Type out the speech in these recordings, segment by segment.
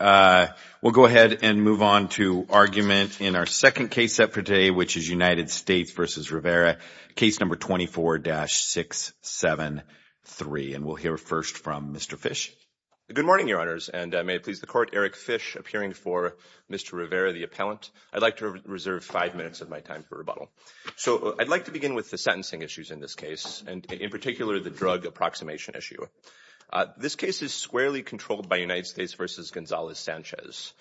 We'll go ahead and move on to argument in our second case set for today which is United States v. Rivera, case number 24-673 and we'll hear first from Mr. Fish. Good morning your honors and may it please the court Eric Fish appearing for Mr. Rivera the appellant. I'd like to reserve five minutes of my time for rebuttal. So I'd like to begin with the sentencing issues in this case and in particular the drug approximation issue. This case is squarely controlled by United States v. Gonzalez-Sanchez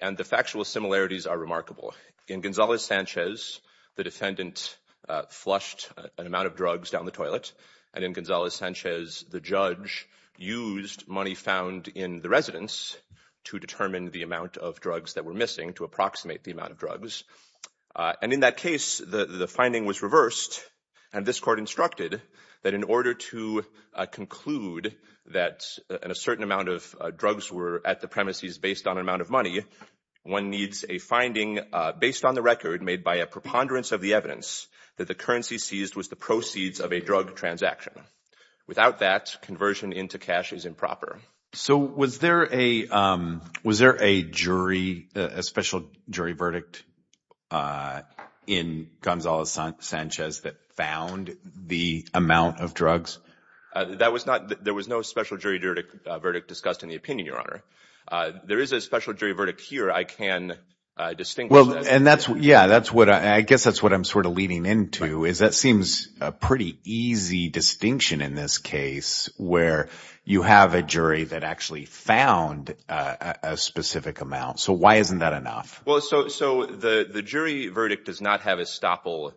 and the factual similarities are remarkable. In Gonzalez-Sanchez the defendant flushed an amount of drugs down the toilet and in Gonzalez-Sanchez the judge used money found in the residence to determine the amount of drugs that were missing to approximate the amount of drugs. And in that case the the finding was reversed and this court instructed that in order to conclude that a certain amount of drugs were at the premises based on an amount of money one needs a finding based on the record made by a preponderance of the evidence that the currency seized was the proceeds of a drug transaction. Without that conversion into cash is improper. So was there a jury, a special jury verdict in Gonzalez-Sanchez that found the amount of drugs? That was not there was no special jury verdict discussed in the opinion your honor. There is a special jury verdict here I can distinguish. Well and that's yeah that's what I guess that's what I'm sort of leaning into is that seems a pretty easy distinction in this case where you have a jury that actually found a specific amount. So why isn't that enough? Well so the the jury verdict does not have estoppel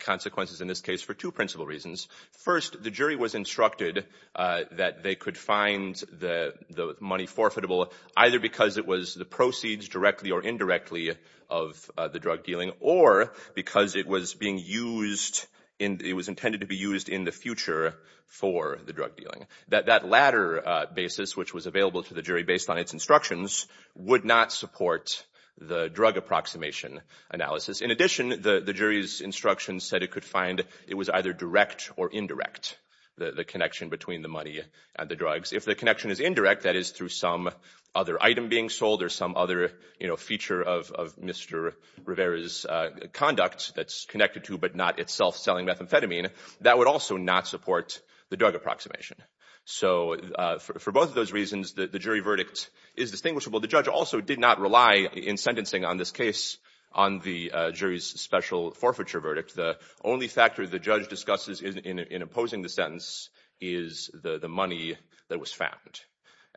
consequences in this case for two principal reasons. First the jury was instructed that they could find the the money forfeitable either because it was the proceeds directly or indirectly of the drug dealing or because it was being used in it was intended to be used in the future for the drug dealing. That that latter basis which was available to the jury based on its instructions would not support the drug approximation analysis. In addition the the jury's instructions said it could find it was either direct or indirect the the connection between the money and the drugs. If the connection is indirect that is through some other item being sold or some other you know feature of of Mr. Rivera's conduct that's connected to but not itself selling methamphetamine that would also not support the drug approximation. So for both of those reasons the jury verdict is distinguishable. The judge also did not rely in sentencing on this case on the jury's special forfeiture verdict. The only factor the judge discusses in in opposing the sentence is the the money that was found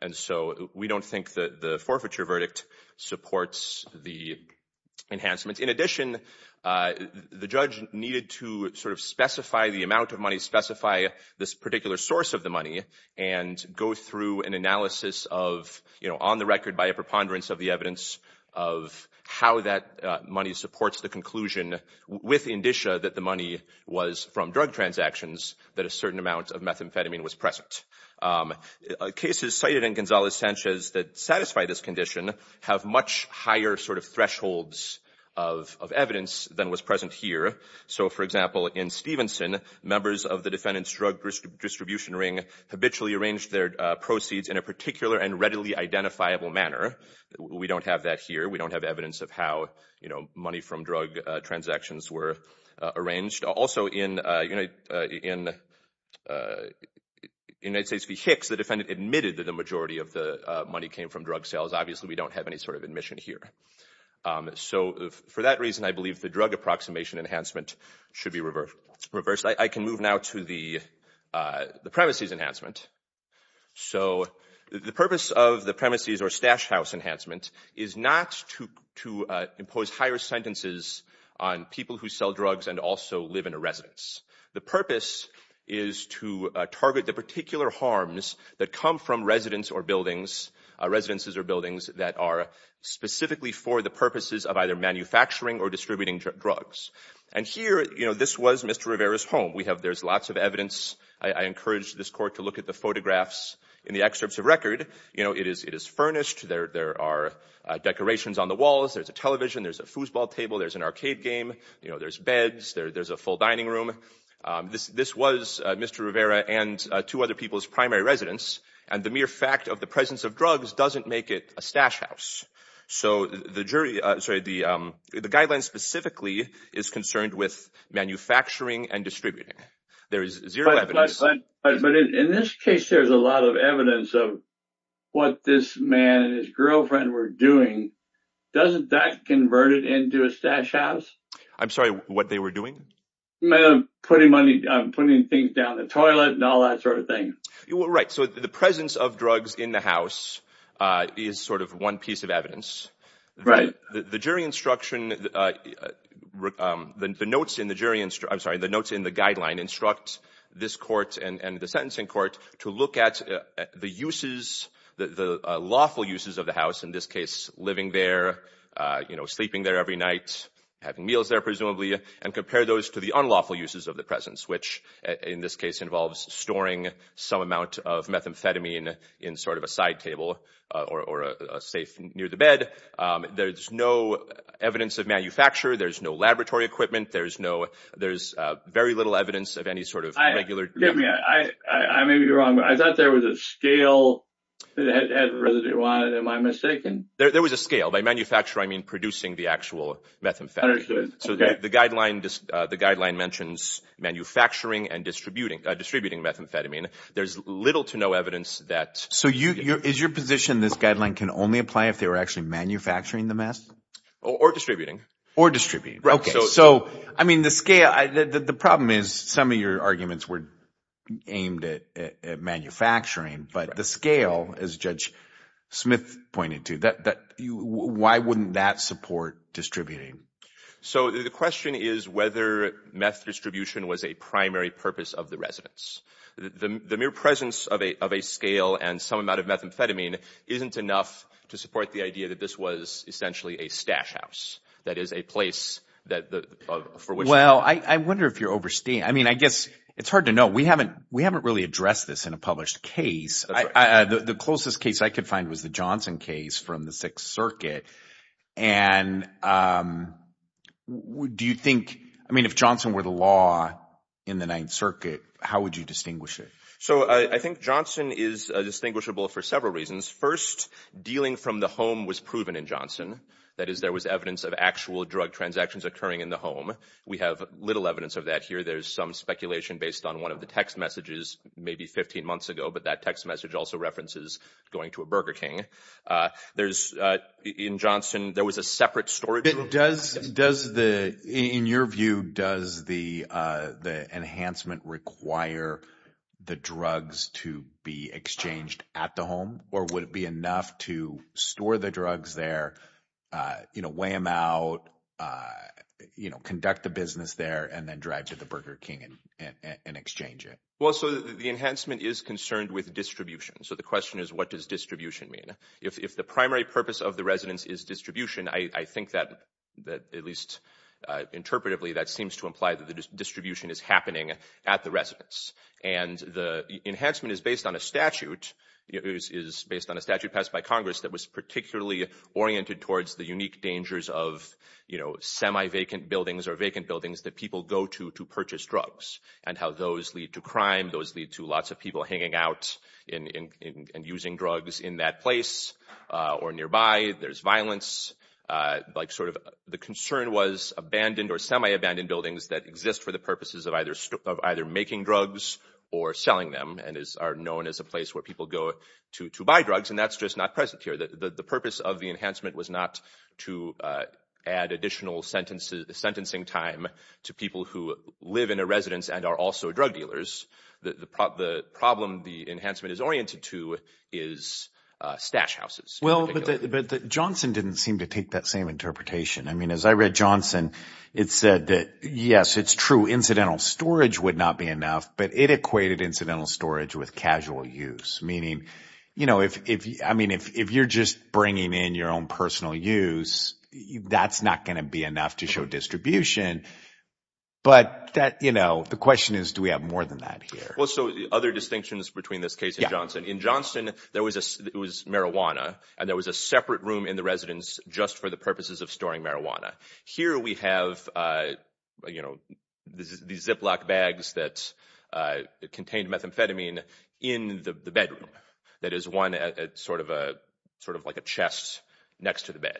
and so we don't think that the forfeiture verdict supports the enhancements. In addition the judge needed to sort of specify the amount of money specify this particular source of the money and go through an analysis of you know on the record by a preponderance of the evidence of how that money supports the conclusion with indicia that the money was from drug transactions that a certain amount of methamphetamine was present. Cases cited in Gonzalez-Sanchez that satisfy this condition have much higher sort of thresholds of evidence than was present here. So for example in Stevenson members of the defendant's drug distribution ring habitually arranged their proceeds in a particular and readily identifiable manner. We don't have that here. We don't have evidence of how you know money from drug transactions were arranged. Also in United States v Hicks the have any sort of admission here. So for that reason I believe the drug approximation enhancement should be reversed. I can move now to the premises enhancement. So the purpose of the premises or stash house enhancement is not to to impose higher sentences on people who sell drugs and also live in a residence. The purpose is to target the particular harms that come from residences or buildings that are specifically for the purposes of either manufacturing or distributing drugs. And here you know this was Mr. Rivera's home. We have there's lots of evidence. I encourage this court to look at the photographs in the excerpts of record. You know it is furnished. There are decorations on the walls. There's a television. There's a foosball table. There's an arcade game. You know there's beds. There's a full dining room. This was Mr. Rivera and two other people's primary residence. And the mere fact of the presence of drugs doesn't make it a stash house. So the jury sorry the guidelines specifically is concerned with manufacturing and distributing. There is zero evidence. But in this case there's a lot of evidence of what this man and his girlfriend were doing. Doesn't that convert it to a stash house? I'm sorry what they were doing? Putting money putting things down the toilet and all that sort of thing. You're right. So the presence of drugs in the house is sort of one piece of evidence. Right. The jury instruction the notes in the jury I'm sorry the notes in the guideline instruct this court and the sentencing court to look at the uses the lawful uses of the house in this case living there you know sleeping there every night having meals there presumably and compare those to the unlawful uses of the presence which in this case involves storing some amount of methamphetamine in sort of a side table or a safe near the bed. There's no evidence of manufacture. There's no laboratory equipment. There's no there's very little evidence of any sort of regular. Forgive me I may be wrong but I thought there was a scale that had residue on it. Am I mistaken? There was a scale by manufacturer I mean producing the actual methamphetamine. So the guideline just the guideline mentions manufacturing and distributing distributing methamphetamine. There's little to no evidence that. So is your position this guideline can only apply if they were actually manufacturing the mess? Or distributing. Or distributing. Okay so I mean the scale the problem is some of your arguments were aimed at manufacturing but the scale as Judge Smith pointed to that that you why wouldn't that support distributing? So the question is whether meth distribution was a primary purpose of the residence. The the mere presence of a of a scale and some amount of methamphetamine isn't enough to support the idea that this was essentially a stash house. That is a place that the for which well I I wonder if you're overstaying. I mean I guess it's hard to know. We haven't we haven't really addressed this in a published case. The closest case I could find was the Johnson case from the Sixth Circuit. And do you think I mean if Johnson were the law in the Ninth Circuit how would you distinguish it? So I think Johnson is distinguishable for several reasons. First dealing from the home was proven in Johnson. That is there was evidence of actual drug transactions occurring in the home. We have little evidence of that here. There's some speculation based on one of the text messages maybe 15 months ago but that text message also references going to a Burger King. There's in Johnson there was a separate storage room. Does does the in your view does the the enhancement require the drugs to be exchanged at the home or would it be enough to store the drugs there you know weigh them out you know conduct the business there and then to the Burger King and exchange it? Well so the enhancement is concerned with distribution. So the question is what does distribution mean? If the primary purpose of the residence is distribution I think that that at least interpretively that seems to imply that the distribution is happening at the residence. And the enhancement is based on a statute. It is based on a statute passed by Congress that was particularly oriented towards the unique dangers of you know semi-vacant buildings or vacant buildings that people go to to purchase drugs and how those lead to crime those lead to lots of people hanging out in in and using drugs in that place or nearby. There's violence like sort of the concern was abandoned or semi-abandoned buildings that exist for the purposes of either of either making drugs or selling them and is are known as a place where people go to to buy drugs and that's just not present here. The purpose of the enhancement was not to add additional sentences sentencing time to people who live in a residence and are also drug dealers. The problem the enhancement is oriented to is stash houses. Well but Johnson didn't seem to take that same interpretation. I mean as I read Johnson it said that yes it's true incidental storage would not be enough but it equated incidental storage with casual use. Meaning you know if I mean if you're just bringing in your own personal use that's not going to be enough to show distribution but that you know the question is do we have more than that here? Well so the other distinctions between this case and Johnson. In Johnson there was a it was marijuana and there was a separate room in the residence just for the purposes of storing marijuana. Here we have you know these ziploc bags that contained methamphetamine in the bedroom. That is one sort of a sort of like a chest next to the bed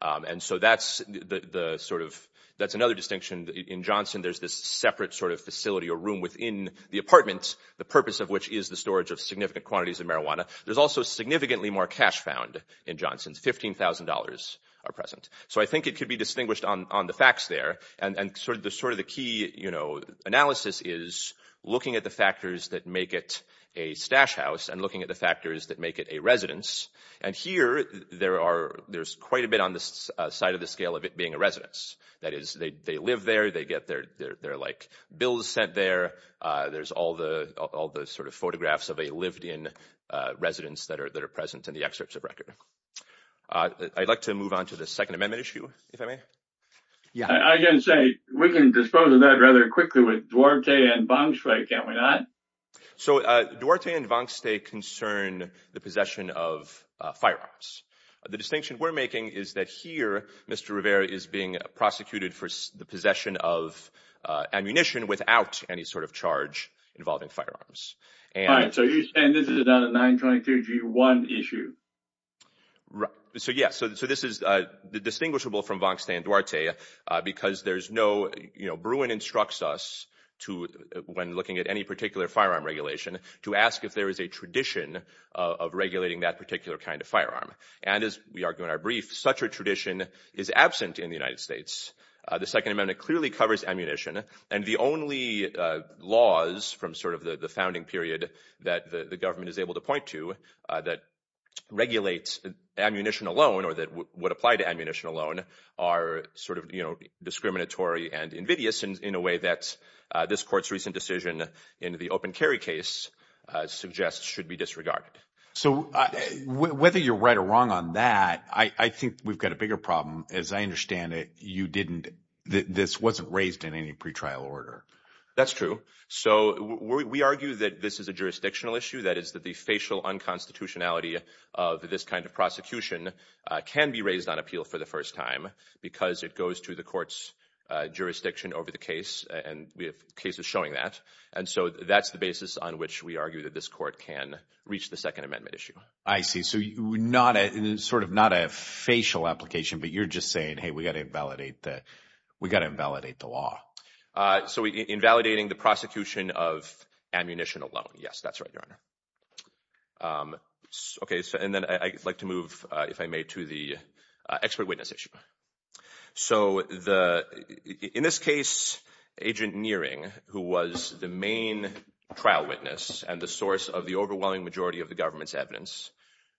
and so that's the sort of that's another distinction in Johnson. There's this separate sort of facility or room within the apartment the purpose of which is the storage of significant quantities of marijuana. There's also significantly more cash found in Johnson. Fifteen thousand dollars are present so I think it could be distinguished on on the facts there and and sort of the sort of the key you know analysis is looking at the factors that make it a stash house and looking at the factors that make it a residence and here there are there's quite a bit on this side of the scale of it being a residence. That is they they live there they get their their like bills sent there. There's all the all the sort of photographs of a lived-in residence that are that are present in the excerpts of record. I'd like to move on to the second amendment issue if I may. Yeah I can say we can dispose of that rather quickly with Duarte and Bonsway can't we not? So Duarte and Bonsway concern the possession of firearms. The distinction we're making is that here Mr. Rivera is being prosecuted for the possession of ammunition without any sort of charge involving firearms. All right so you're saying this is a 923g1 issue? Right so yes so this is uh distinguishable from Vonkstein Duarte because there's no you know Bruin instructs us to when looking at any particular firearm regulation to ask if there is a tradition of regulating that particular kind of firearm and as we argue in our brief such a tradition is absent in the United States. The second amendment clearly covers and the only laws from sort of the the founding period that the government is able to point to that regulates ammunition alone or that would apply to ammunition alone are sort of you know discriminatory and invidious in a way that this court's recent decision in the open carry case suggests should be disregarded. So whether you're right or wrong on that I think we've got a bigger problem as I understand it you didn't this wasn't raised in any pre-trial order. That's true so we argue that this is a jurisdictional issue that is that the facial unconstitutionality of this kind of prosecution can be raised on appeal for the first time because it goes to the court's jurisdiction over the case and we have cases showing that and so that's the basis on which we argue that this court can reach the second amendment issue. I see so you not a sort of not facial application but you're just saying hey we got to invalidate that we got to invalidate the law. So invalidating the prosecution of ammunition alone yes that's right your honor. Okay so and then I'd like to move if I may to the expert witness issue. So the in this case agent Neering who was the main trial witness and the source of the overwhelming majority of the government's evidence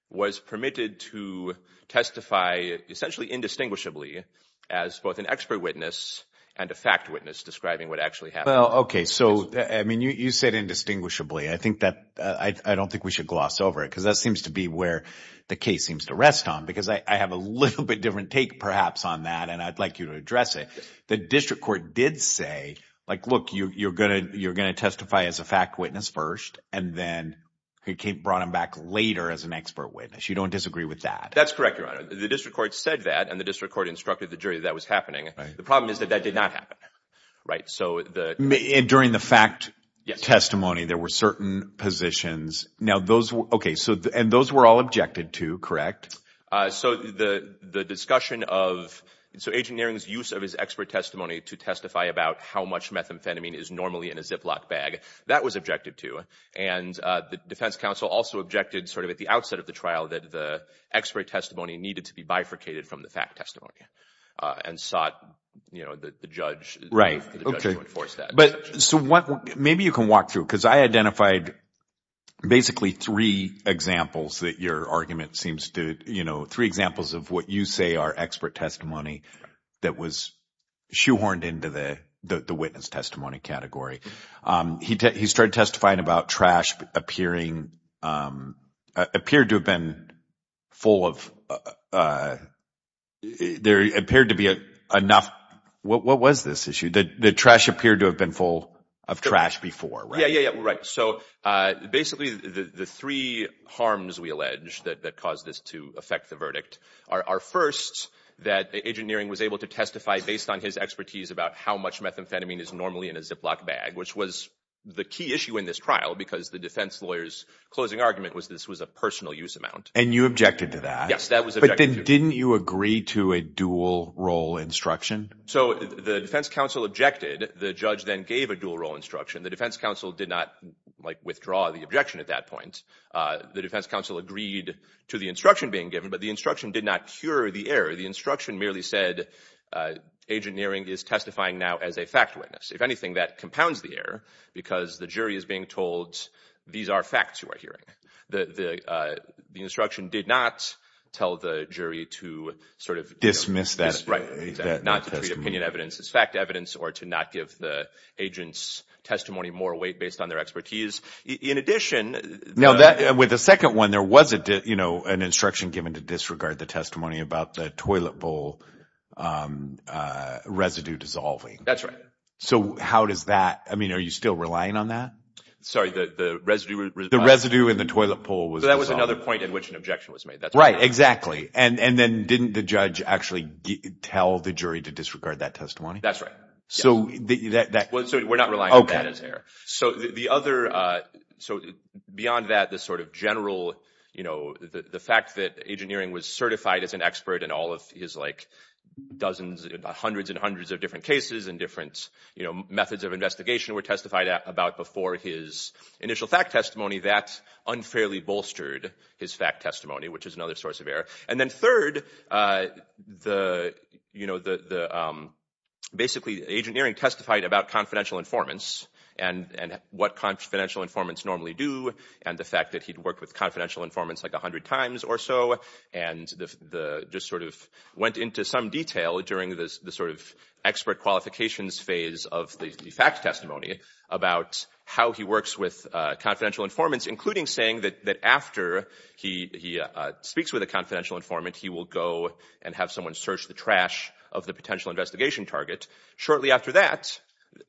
was permitted to testify essentially indistinguishably as both an expert witness and a fact witness describing what actually happened. Well okay so I mean you said indistinguishably I think that I don't think we should gloss over it because that seems to be where the case seems to rest on because I have a little bit different take perhaps on that and I'd like you to address it. The district court did say like look you you're gonna you're gonna testify as a fact witness first and then he brought him back later as an expert witness you don't disagree with that. That's correct your honor the district court said that and the district court instructed the jury that was happening. The problem is that that did not happen right so the during the fact testimony there were certain positions now those okay so and those were all objected to correct. So the the discussion of so agent Neering's use of his expert testimony to testify about how much methamphetamine is normally in a Ziploc bag that was objective too and the defense council also objected sort of at the outset of the trial that the expert testimony needed to be bifurcated from the fact testimony and sought you know the judge right okay to enforce that. But so what maybe you can walk through because I identified basically three examples that your argument seems to you three examples of what you say are expert testimony that was shoehorned into the the witness testimony category. He started testifying about trash appearing appeared to have been full of there appeared to be enough what what was this issue that the trash appeared to have been full of trash before. Yeah yeah right so basically the the three harms we allege that that caused to affect the verdict are first that agent Neering was able to testify based on his expertise about how much methamphetamine is normally in a Ziploc bag which was the key issue in this trial because the defense lawyer's closing argument was this was a personal use amount. And you objected to that? Yes that was. But then didn't you agree to a dual role instruction? So the defense council objected the judge then gave a dual role instruction the defense council did not like withdraw the objection at that point. The defense council agreed to the instruction being given but the instruction did not cure the error the instruction merely said uh agent Neering is testifying now as a fact witness if anything that compounds the error because the jury is being told these are facts you are hearing the the uh the instruction did not tell the jury to sort of dismiss that right not to treat opinion evidence as fact evidence or to not give the agent's testimony more weight based on their expertise in addition now that with the second one there was a you know an instruction given to disregard the testimony about the toilet bowl residue dissolving that's right so how does that i mean are you still relying on that sorry the residue the residue in the toilet pole was that was another point in which an objection was made that's right exactly and and then didn't the judge actually tell the jury to disregard that testimony that's right so that that well so we're not relying on that as error so the other uh so beyond that the sort of general you know the the fact that agent Neering was certified as an expert in all of his like dozens about hundreds and hundreds of different cases and different you know methods of investigation were testified about before his initial fact testimony that unfairly bolstered his fact which is another source of error and then third uh the you know the the um basically agent Neering testified about confidential informants and and what confidential informants normally do and the fact that he'd worked with confidential informants like a hundred times or so and the the just sort of went into some detail during this the sort of expert qualifications phase of the fact testimony about how he works with uh confidential informants including saying that that after he he speaks with a confidential informant he will go and have someone search the trash of the potential investigation target shortly after that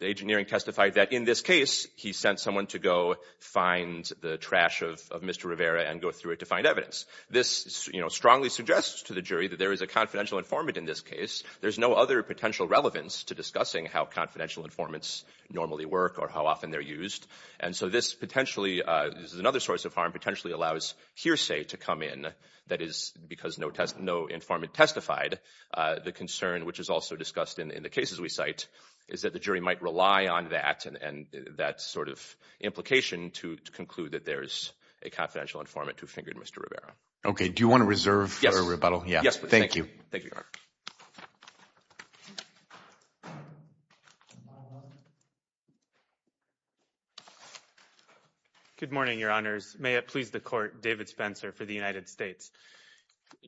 the agent Neering testified that in this case he sent someone to go find the trash of Mr. Rivera and go through it to find evidence this you know strongly suggests to the jury that there is a confidential informant in this case there's no other potential relevance to discussing how confidential informants normally work or how often they're used and so this potentially uh this is another source of harm potentially allows hearsay to come in that is because no test no informant testified uh the concern which is also discussed in in the cases we cite is that the jury might rely on that and that sort of implication to conclude that there's a confidential informant who fingered Mr. Rivera okay do you want to reserve for a rebuttal yes thank you thank you good morning your honors may it please the court david spencer for the united states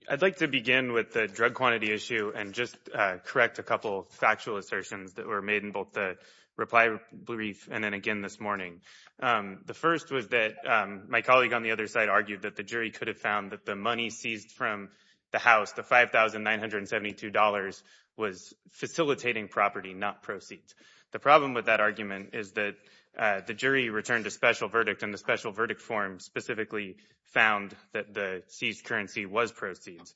i'd like to begin with the drug quantity issue and just uh correct a couple factual assertions that were made in both the reply brief and then again this morning um the first was that um my seized from the house the $5,972 was facilitating property not proceeds the problem with that argument is that uh the jury returned a special verdict and the special verdict form specifically found that the seized currency was proceeds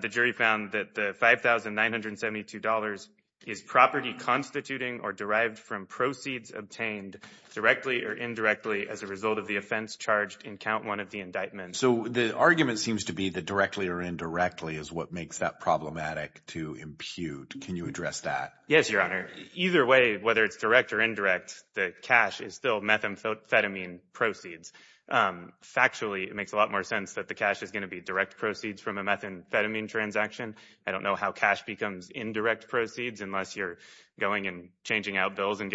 the jury found that the $5,972 is property constituting or derived from proceeds obtained directly or indirectly as a result of the offense charged in count one of the indictments so the argument seems to be that directly or indirectly is what makes that problematic to impute can you address that yes your honor either way whether it's direct or indirect the cash is still methamphetamine proceeds um factually it makes a lot more sense that the cash is going to be direct proceeds from a methamphetamine transaction i don't know how cash becomes indirect proceeds unless you're going and changing out bills and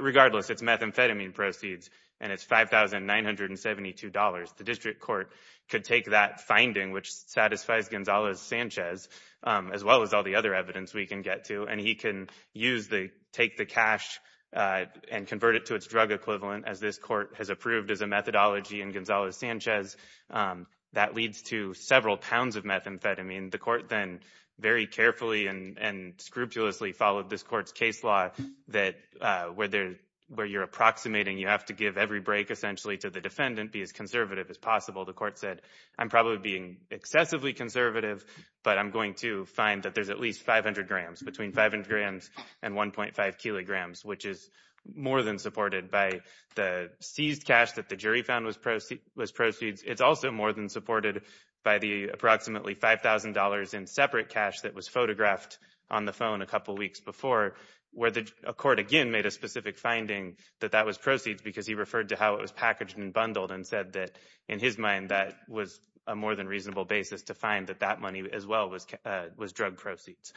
regardless it's methamphetamine proceeds and it's $5,972 the district court could take that finding which satisfies gonzalez-sanchez as well as all the other evidence we can get to and he can use the take the cash uh and convert it to its drug equivalent as this court has approved as a methodology and gonzalez-sanchez um that leads to several pounds of methamphetamine the court then very carefully and and scrupulously followed this court's case law that uh where there where you're approximating you have to give every break essentially to the defendant be as conservative as possible the court said i'm probably being excessively conservative but i'm going to find that there's at least 500 grams between 500 grams and 1.5 kilograms which is more than supported by the seized cash that the jury found was proceed was proceeds it's also more than supported by the approximately five thousand dollars in separate cash that was photographed on the phone a couple weeks before where the court again made a specific finding that that was proceeds because he referred to how it was packaged and bundled and said that in his mind that was a more than reasonable basis to find that that money as well was uh was drug proceeds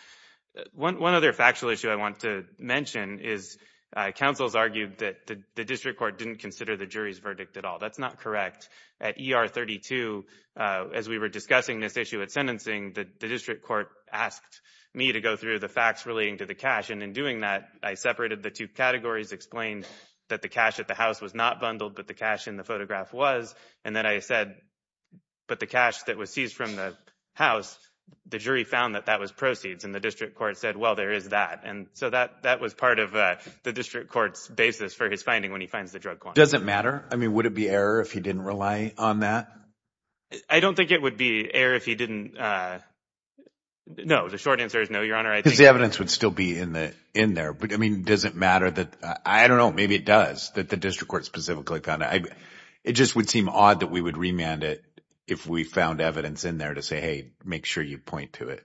one other factual issue i want to mention is uh councils argued that the district court didn't consider the jury's at all that's not correct at er 32 uh as we were discussing this issue at sentencing that the district court asked me to go through the facts relating to the cash and in doing that i separated the two categories explained that the cash at the house was not bundled but the cash in the photograph was and then i said but the cash that was seized from the house the jury found that that was proceeds and the district court said well there is that and so that that was part of uh the district court's basis for his finding when he finds the drug doesn't matter i mean would it be error if he didn't rely on that i don't think it would be error if he didn't uh no the short answer is no your honor i think the evidence would still be in the in there but i mean does it matter that i don't know maybe it does that the district court specifically found i it just would seem odd that we would remand it if we found evidence in there to say hey make sure you point to it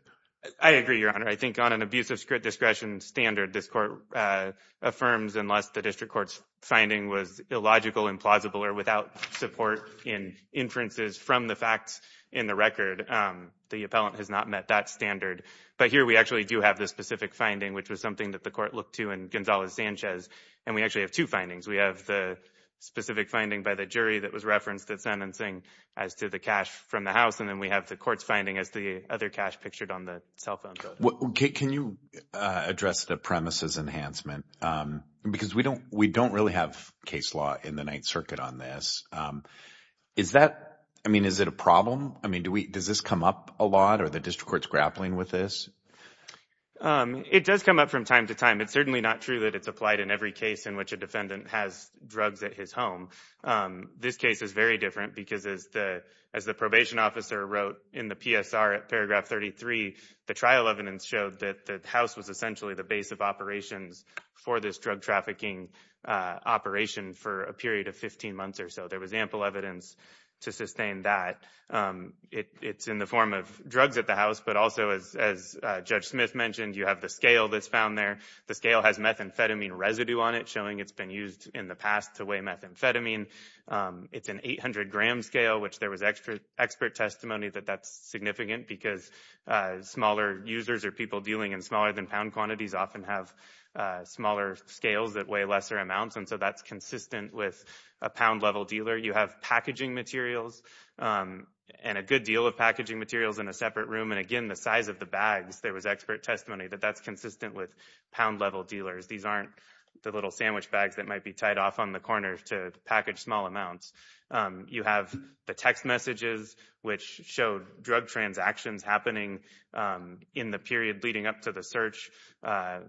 i agree your honor i think on an abusive discretion standard this court uh affirms unless the district court's finding was illogical implausible or without support in inferences from the facts in the record um the appellant has not met that standard but here we actually do have the specific finding which was something that the court looked to in gonzalez-sanchez and we actually have two findings we have the specific finding by the jury that was referenced at sentencing as to the cash from the house and then we have the court's other cash pictured on the cell phone can you uh address the premises enhancement um because we don't we don't really have case law in the ninth circuit on this um is that i mean is it a problem i mean do we does this come up a lot or the district court's grappling with this um it does come up from time to time it's certainly not true that it's applied in every case in which a defendant has drugs at his home um this case is very different because as the as the paragraph 33 the trial evidence showed that the house was essentially the base of operations for this drug trafficking uh operation for a period of 15 months or so there was ample evidence to sustain that um it it's in the form of drugs at the house but also as as uh judge smith mentioned you have the scale that's found there the scale has methamphetamine residue on it showing it's been used in the past to weigh methamphetamine um it's an 800 gram scale which there was extra expert testimony that that's significant because uh smaller users or people dealing in smaller than pound quantities often have uh smaller scales that weigh lesser amounts and so that's consistent with a pound level dealer you have packaging materials um and a good deal of packaging materials in a separate room and again the size of the bags there was expert testimony that that's consistent with pound level dealers these aren't the little sandwich bags that might be tied off on the corner to package small amounts um you have the text messages which showed drug transactions happening um in the period leading up to the search uh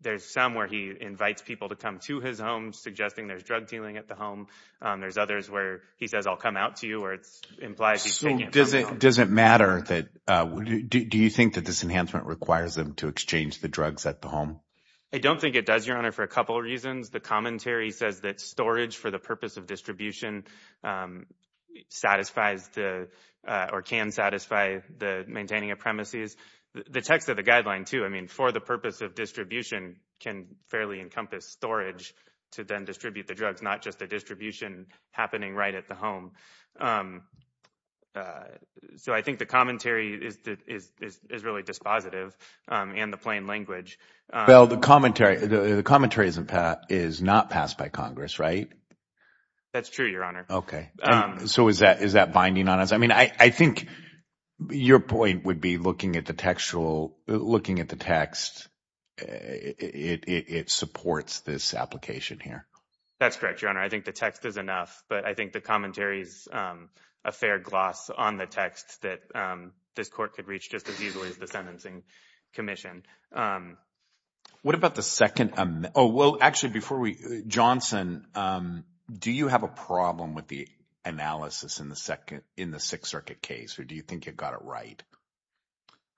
there's some where he invites people to come to his home suggesting there's drug dealing at the home um there's others where he says i'll come out to you or it's implies so does it doesn't matter that uh do you think that this enhancement requires them to exchange the drugs at the home i don't think it does your couple reasons the commentary says that storage for the purpose of distribution um satisfies the or can satisfy the maintaining of premises the text of the guideline too i mean for the purpose of distribution can fairly encompass storage to then distribute the drugs not just the distribution happening right at the home um uh so i think the commentary is that is is really dispositive um and the plain language well the commentary the commentary isn't pat is not passed by congress right that's true your honor okay um so is that is that binding on us i mean i i think your point would be looking at the textual looking at the text it it supports this application here that's correct your honor i think the text is enough but i think the commentary is um a fair gloss on the text that um this court could reach just as easily as the sentencing commission um what about the second um oh well actually before we johnson um do you have a problem with the analysis in the second in the sixth circuit case or do you think you got it right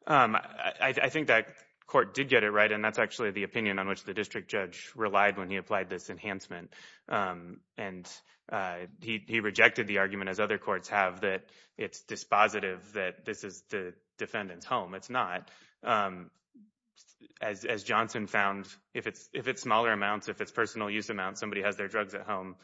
um i i think that court did get it right and that's actually the opinion on which the district judge relied when he applied this enhancement um and uh he he rejected the argument as other courts have that it's dispositive that this is the defendant's home it's not um as as johnson found if it's if it's smaller amounts if it's personal use amount somebody has their drugs at home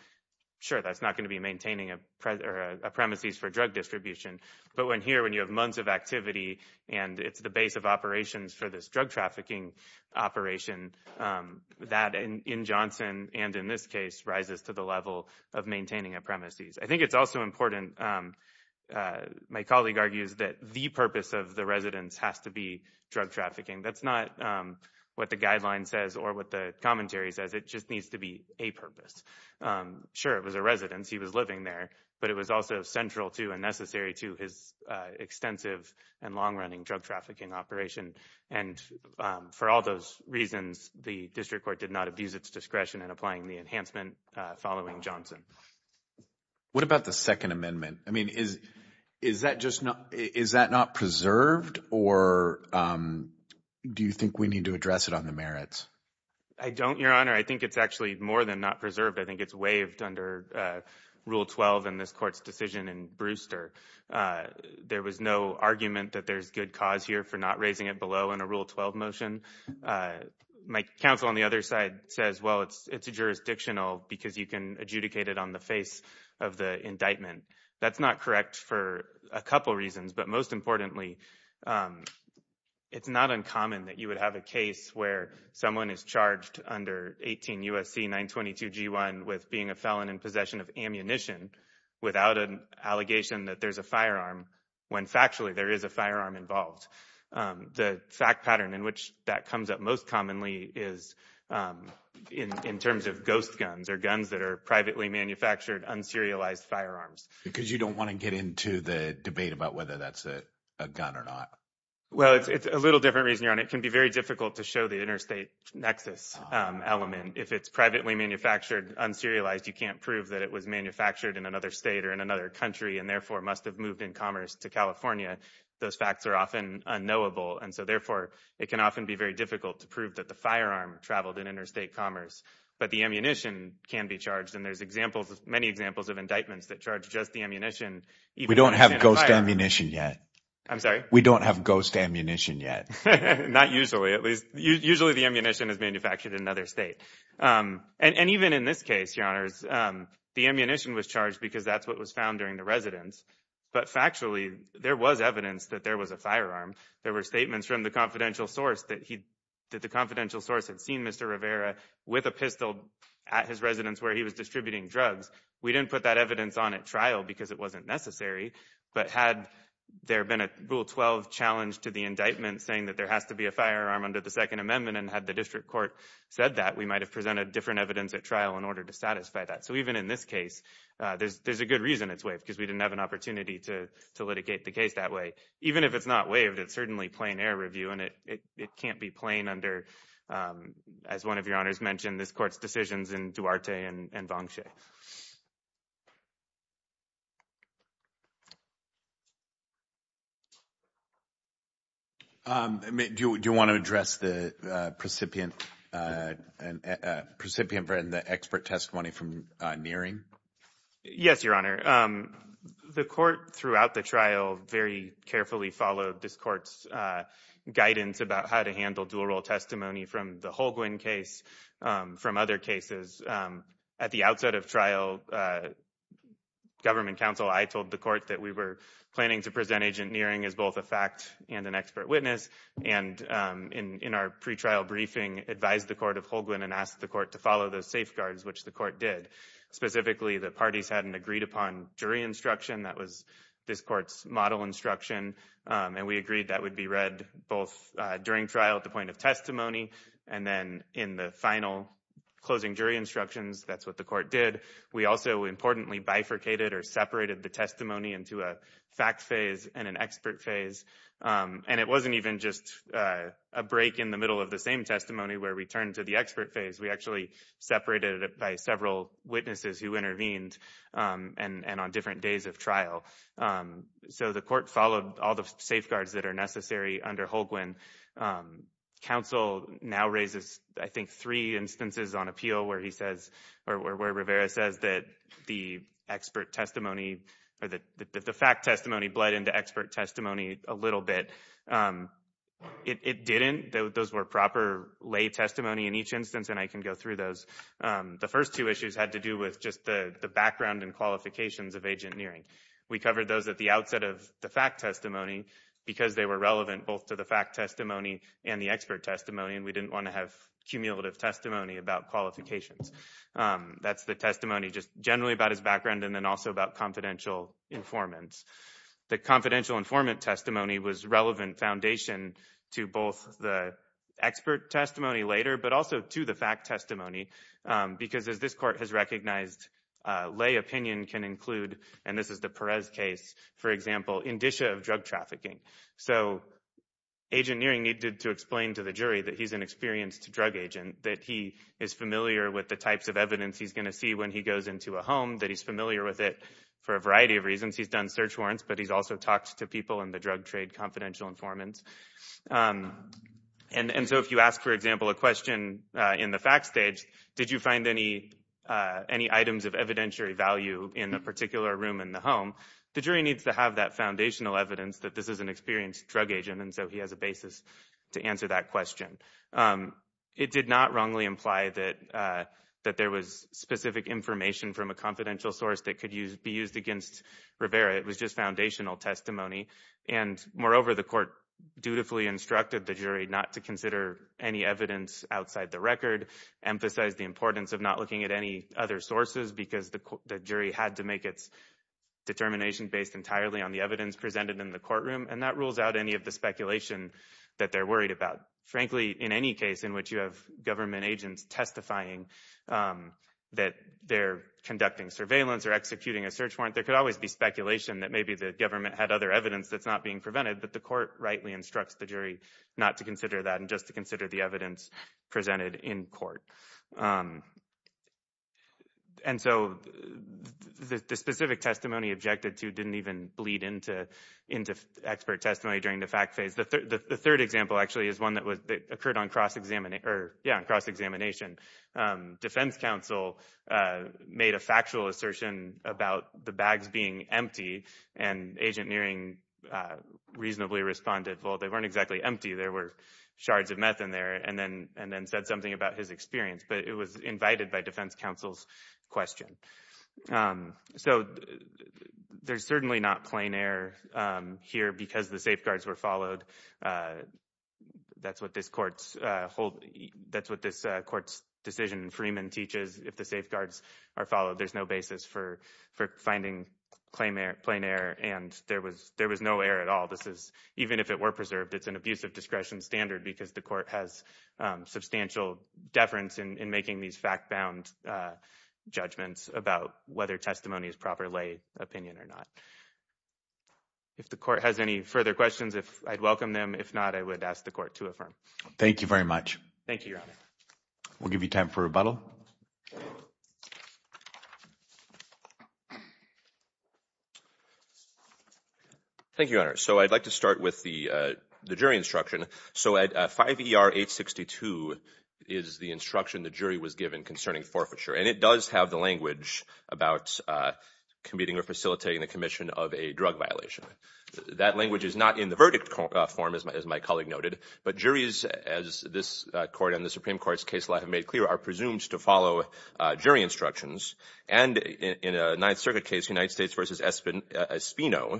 sure that's not going to be maintaining a present or a premises for drug distribution but when here when you have months of activity and it's the base of operations for this drug trafficking operation um that in in johnson and in this case rises to the level of maintaining a premises i think it's also important um uh my colleague argues that the purpose of the residence has to be drug trafficking that's not um what the guideline says or what the commentary says it just needs to be a purpose um sure it was a residence he was living there but it was also central to and necessary to his uh extensive and long-running drug trafficking operation and um for all those reasons the district court did not abuse its discretion in applying the enhancement uh following johnson what about the second amendment i mean is is that just not is that not preserved or um do you think we need to address it on the merits i don't your honor i think it's actually more than not preserved i think it's waived under uh rule 12 in this court's decision in brewster uh there was no argument that there's good cause here for not raising it below in a rule 12 motion uh my counsel on the other side says well it's it's jurisdictional because you can adjudicate it on the face of the indictment that's not correct for a couple reasons but most importantly um it's not uncommon that you would have a case where someone is charged under 18 usc 922 g1 with being a felon in possession of ammunition without an allegation that there's a when factually there is a firearm involved um the fact pattern in which that comes up most commonly is um in in terms of ghost guns or guns that are privately manufactured unserialized firearms because you don't want to get into the debate about whether that's a a gun or not well it's a little different reason you're on it can be very difficult to show the interstate nexus element if it's privately manufactured unserialized you can't prove that it was manufactured in another state or in another country and therefore must have moved in commerce to california those facts are often unknowable and so therefore it can often be very difficult to prove that the firearm traveled in interstate commerce but the ammunition can be charged and there's examples many examples of indictments that charge just the ammunition we don't have ghost ammunition yet i'm sorry we don't have ghost ammunition yet not usually at least usually the ammunition is manufactured in another state um and even in this case your honors um the ammunition was charged because that's what was found during the residence but factually there was evidence that there was a firearm there were statements from the confidential source that he that the confidential source had seen mr rivera with a pistol at his residence where he was distributing drugs we didn't put that evidence on at trial because it wasn't necessary but had there been a rule 12 challenge to the indictment saying that there has to be a firearm under the second amendment and had the district court said that we might have so even in this case uh there's there's a good reason it's waived because we didn't have an opportunity to to litigate the case that way even if it's not waived it's certainly plain air review and it it can't be plain under um as one of your honors mentioned this court's decisions in duarte and and vong shih um do you want to address the uh precipient uh and uh precipient for the expert testimony from nearing yes your honor um the court throughout the trial very carefully followed this court's uh guidance about how to handle dual role testimony from the holguin case um from other cases um at the outset of trial uh government council i told the court that we were planning to present agent nearing as both a fact and an expert witness and um in in our pre-trial briefing advised the court of holguin and asked the court to follow those safeguards which the court did specifically the parties hadn't agreed upon jury instruction that was this court's model instruction um and we agreed that would be read both uh during trial at the point of testimony and then in the final closing jury instructions that's what the court did we also importantly bifurcated or separated the testimony into a fact phase and an expert phase um and it wasn't even just uh a break in the middle of the same testimony where we turned to the expert phase we actually separated it by several witnesses who intervened um and and on different days of trial um so the court followed all the safeguards that are necessary under holguin um council now raises i think three instances on appeal where he says or where rivera says that the expert testimony or the the fact testimony bled into expert testimony a little bit um it it didn't those were proper lay testimony in each instance and i can go through those um the first two issues had to do with just the the background and qualifications of agent nearing we covered those at the outset of the fact testimony because they were relevant both to the fact testimony and the expert testimony and we didn't want to have cumulative testimony about qualifications that's the testimony just generally about his background and then also about confidential informants the confidential informant testimony was relevant foundation to both the expert testimony later but also to the fact testimony because as this court has recognized uh lay opinion can include and this is the perez case for example indicia of drug trafficking so agent nearing needed to explain to the jury that he's an experienced drug agent that he is familiar with the types of evidence he's going to see when he goes into a home that he's familiar with it for a variety of reasons he's done search warrants but he's also talked to people in the drug trade confidential informants and and so if you ask for example a question uh in the fact stage did you find any uh any items of evidentiary value in a particular room in the home the jury needs to have that foundational evidence that this is an experienced drug agent and so he has a basis to answer that question um it did not wrongly imply that uh that there was specific information from a confidential source that could use be used against rivera it was just foundational testimony and moreover the court dutifully instructed the jury not to consider any evidence outside the record emphasized the importance of not looking at any other sources because the jury had to make its determination based entirely on the evidence presented in the courtroom and that rules out any of the speculation that they're worried about frankly in any case in which you have government agents testifying um that they're conducting surveillance or executing a search warrant there could always be speculation that maybe the government had other evidence that's not being prevented but the court rightly instructs the jury not to consider that and just to consider the evidence presented in court um and so the specific testimony objected to didn't even bleed into into expert testimony during the fact phase the the third example actually is one that was that occurred on cross-examination cross-examination um defense counsel uh made a factual assertion about the bags being empty and agent nearing uh reasonably responded well they weren't exactly empty there were shards of meth in there and then and then said something about his experience but it was invited by defense counsel's question um so there's certainly not plain air um here because the safeguards were followed uh that's what this court's uh hold that's what this court's decision freeman teaches if the safeguards are followed there's no basis for for finding claim air plain air and there was there was no air at all this is even if it were preserved it's an abusive discretion standard because the court has um substantial deference in in making these fact bound uh judgments about whether testimony is proper lay opinion or not if the court has any further questions if i'd welcome them if not i would ask the court to affirm thank you very much thank you your honor we'll give you time for rebuttal thank you your honor so i'd like to start with the uh the jury instruction so at 5 er 862 is the instruction the jury was given concerning forfeiture and it does have the language about uh competing or facilitating the commission of a drug violation that language is not in the verdict form as my colleague noted but juries as this court and the supreme court's case law have presumed to follow uh jury instructions and in a ninth circuit case united states versus espin espino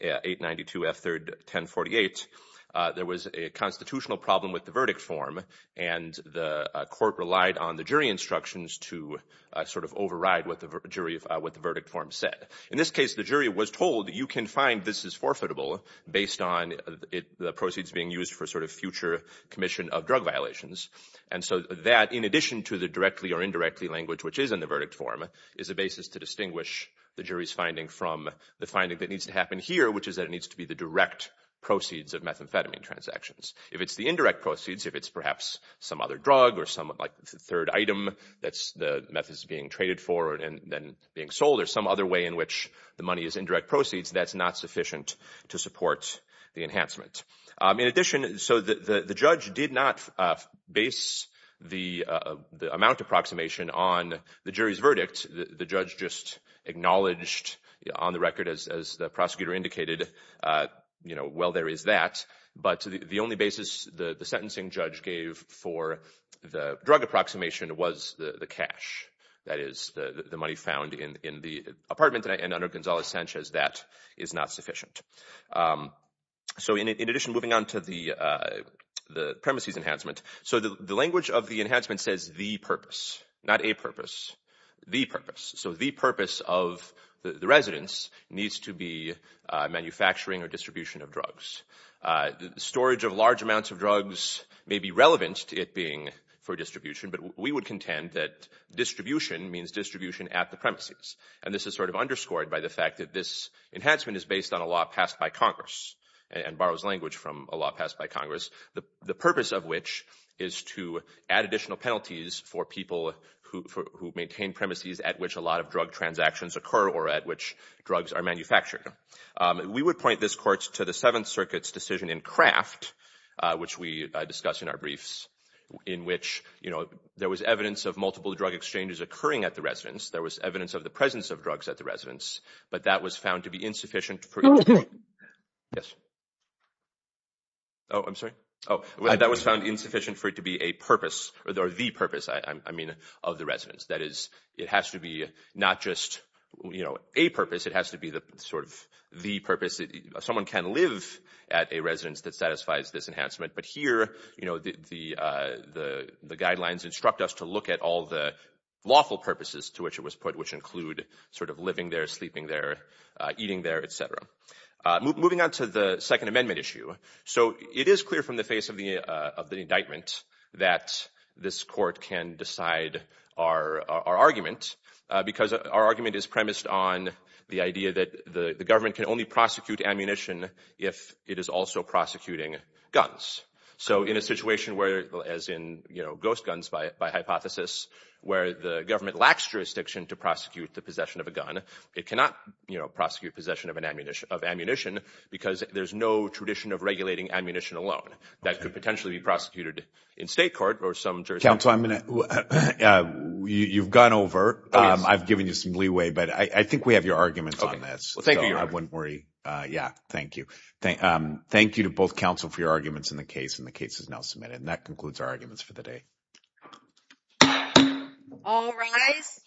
892 f third 1048 uh there was a constitutional problem with the verdict form and the court relied on the jury instructions to sort of override what the jury what the verdict form said in this case the jury was told you can find this is forfeitable based on it the proceeds being used for sort of future commission of drug violations and so that in addition to the directly or indirectly language which is in the verdict form is a basis to distinguish the jury's finding from the finding that needs to happen here which is that it needs to be the direct proceeds of methamphetamine transactions if it's the indirect proceeds if it's perhaps some other drug or some like the third item that's the methods being traded for and then being sold or some other way in which the money is indirect proceeds that's not sufficient to support the enhancement in addition so the the judge did not uh base the uh the amount approximation on the jury's verdict the judge just acknowledged on the record as the prosecutor indicated uh you know well there is that but the only basis the the sentencing judge gave for the drug approximation was the the cash that is the money found in in the apartment and under gonzalez sanchez that is not sufficient um so in addition moving on to the uh the premises enhancement so the language of the enhancement says the purpose not a purpose the purpose so the purpose of the residents needs to be manufacturing or distribution of drugs uh the storage of large amounts of drugs may be relevant it being for distribution but we would contend that distribution means distribution at the premises and this is sort of underscored by the fact that this enhancement is based on a law passed by congress and borrows language from a law passed by congress the the purpose of which is to add additional penalties for people who maintain premises at which a lot of drug transactions occur or at which drugs are manufactured we would point this court to the seventh circuit's decision in craft which we discussed in our briefs in which you know there was evidence of multiple drug exchanges occurring at the residence there was evidence of the presence of drugs at the residence but that was found to be insufficient for yes oh i'm sorry oh that was found insufficient for it to be a purpose or the purpose i i mean of the residents that is it has to be not just you know a purpose it has to be the sort of the purpose someone can live at a residence that satisfies this enhancement but here you know the uh the the guidelines instruct us to look at all the lawful purposes to which it was put which include sort of living there sleeping there eating there etc uh moving on to the second amendment issue so it is clear from the face of the indictment that this court can decide our our argument because our argument is premised on the idea that the government can only prosecute ammunition if it is also prosecuting guns so in a situation where as in you know ghost guns by by hypothesis where the government lacks jurisdiction to prosecute the possession of a gun it cannot you know prosecute possession of an ammunition of ammunition because there's no tradition of regulating ammunition alone that could potentially be prosecuted in state court or some jurisdiction you've gone over um i've given you some leeway but i i think we have your arguments on this well thank you i wouldn't worry uh yeah thank you thank um thank you to both counsel for your arguments in the case and the case is now submitted and that concludes our arguments for the day all right guys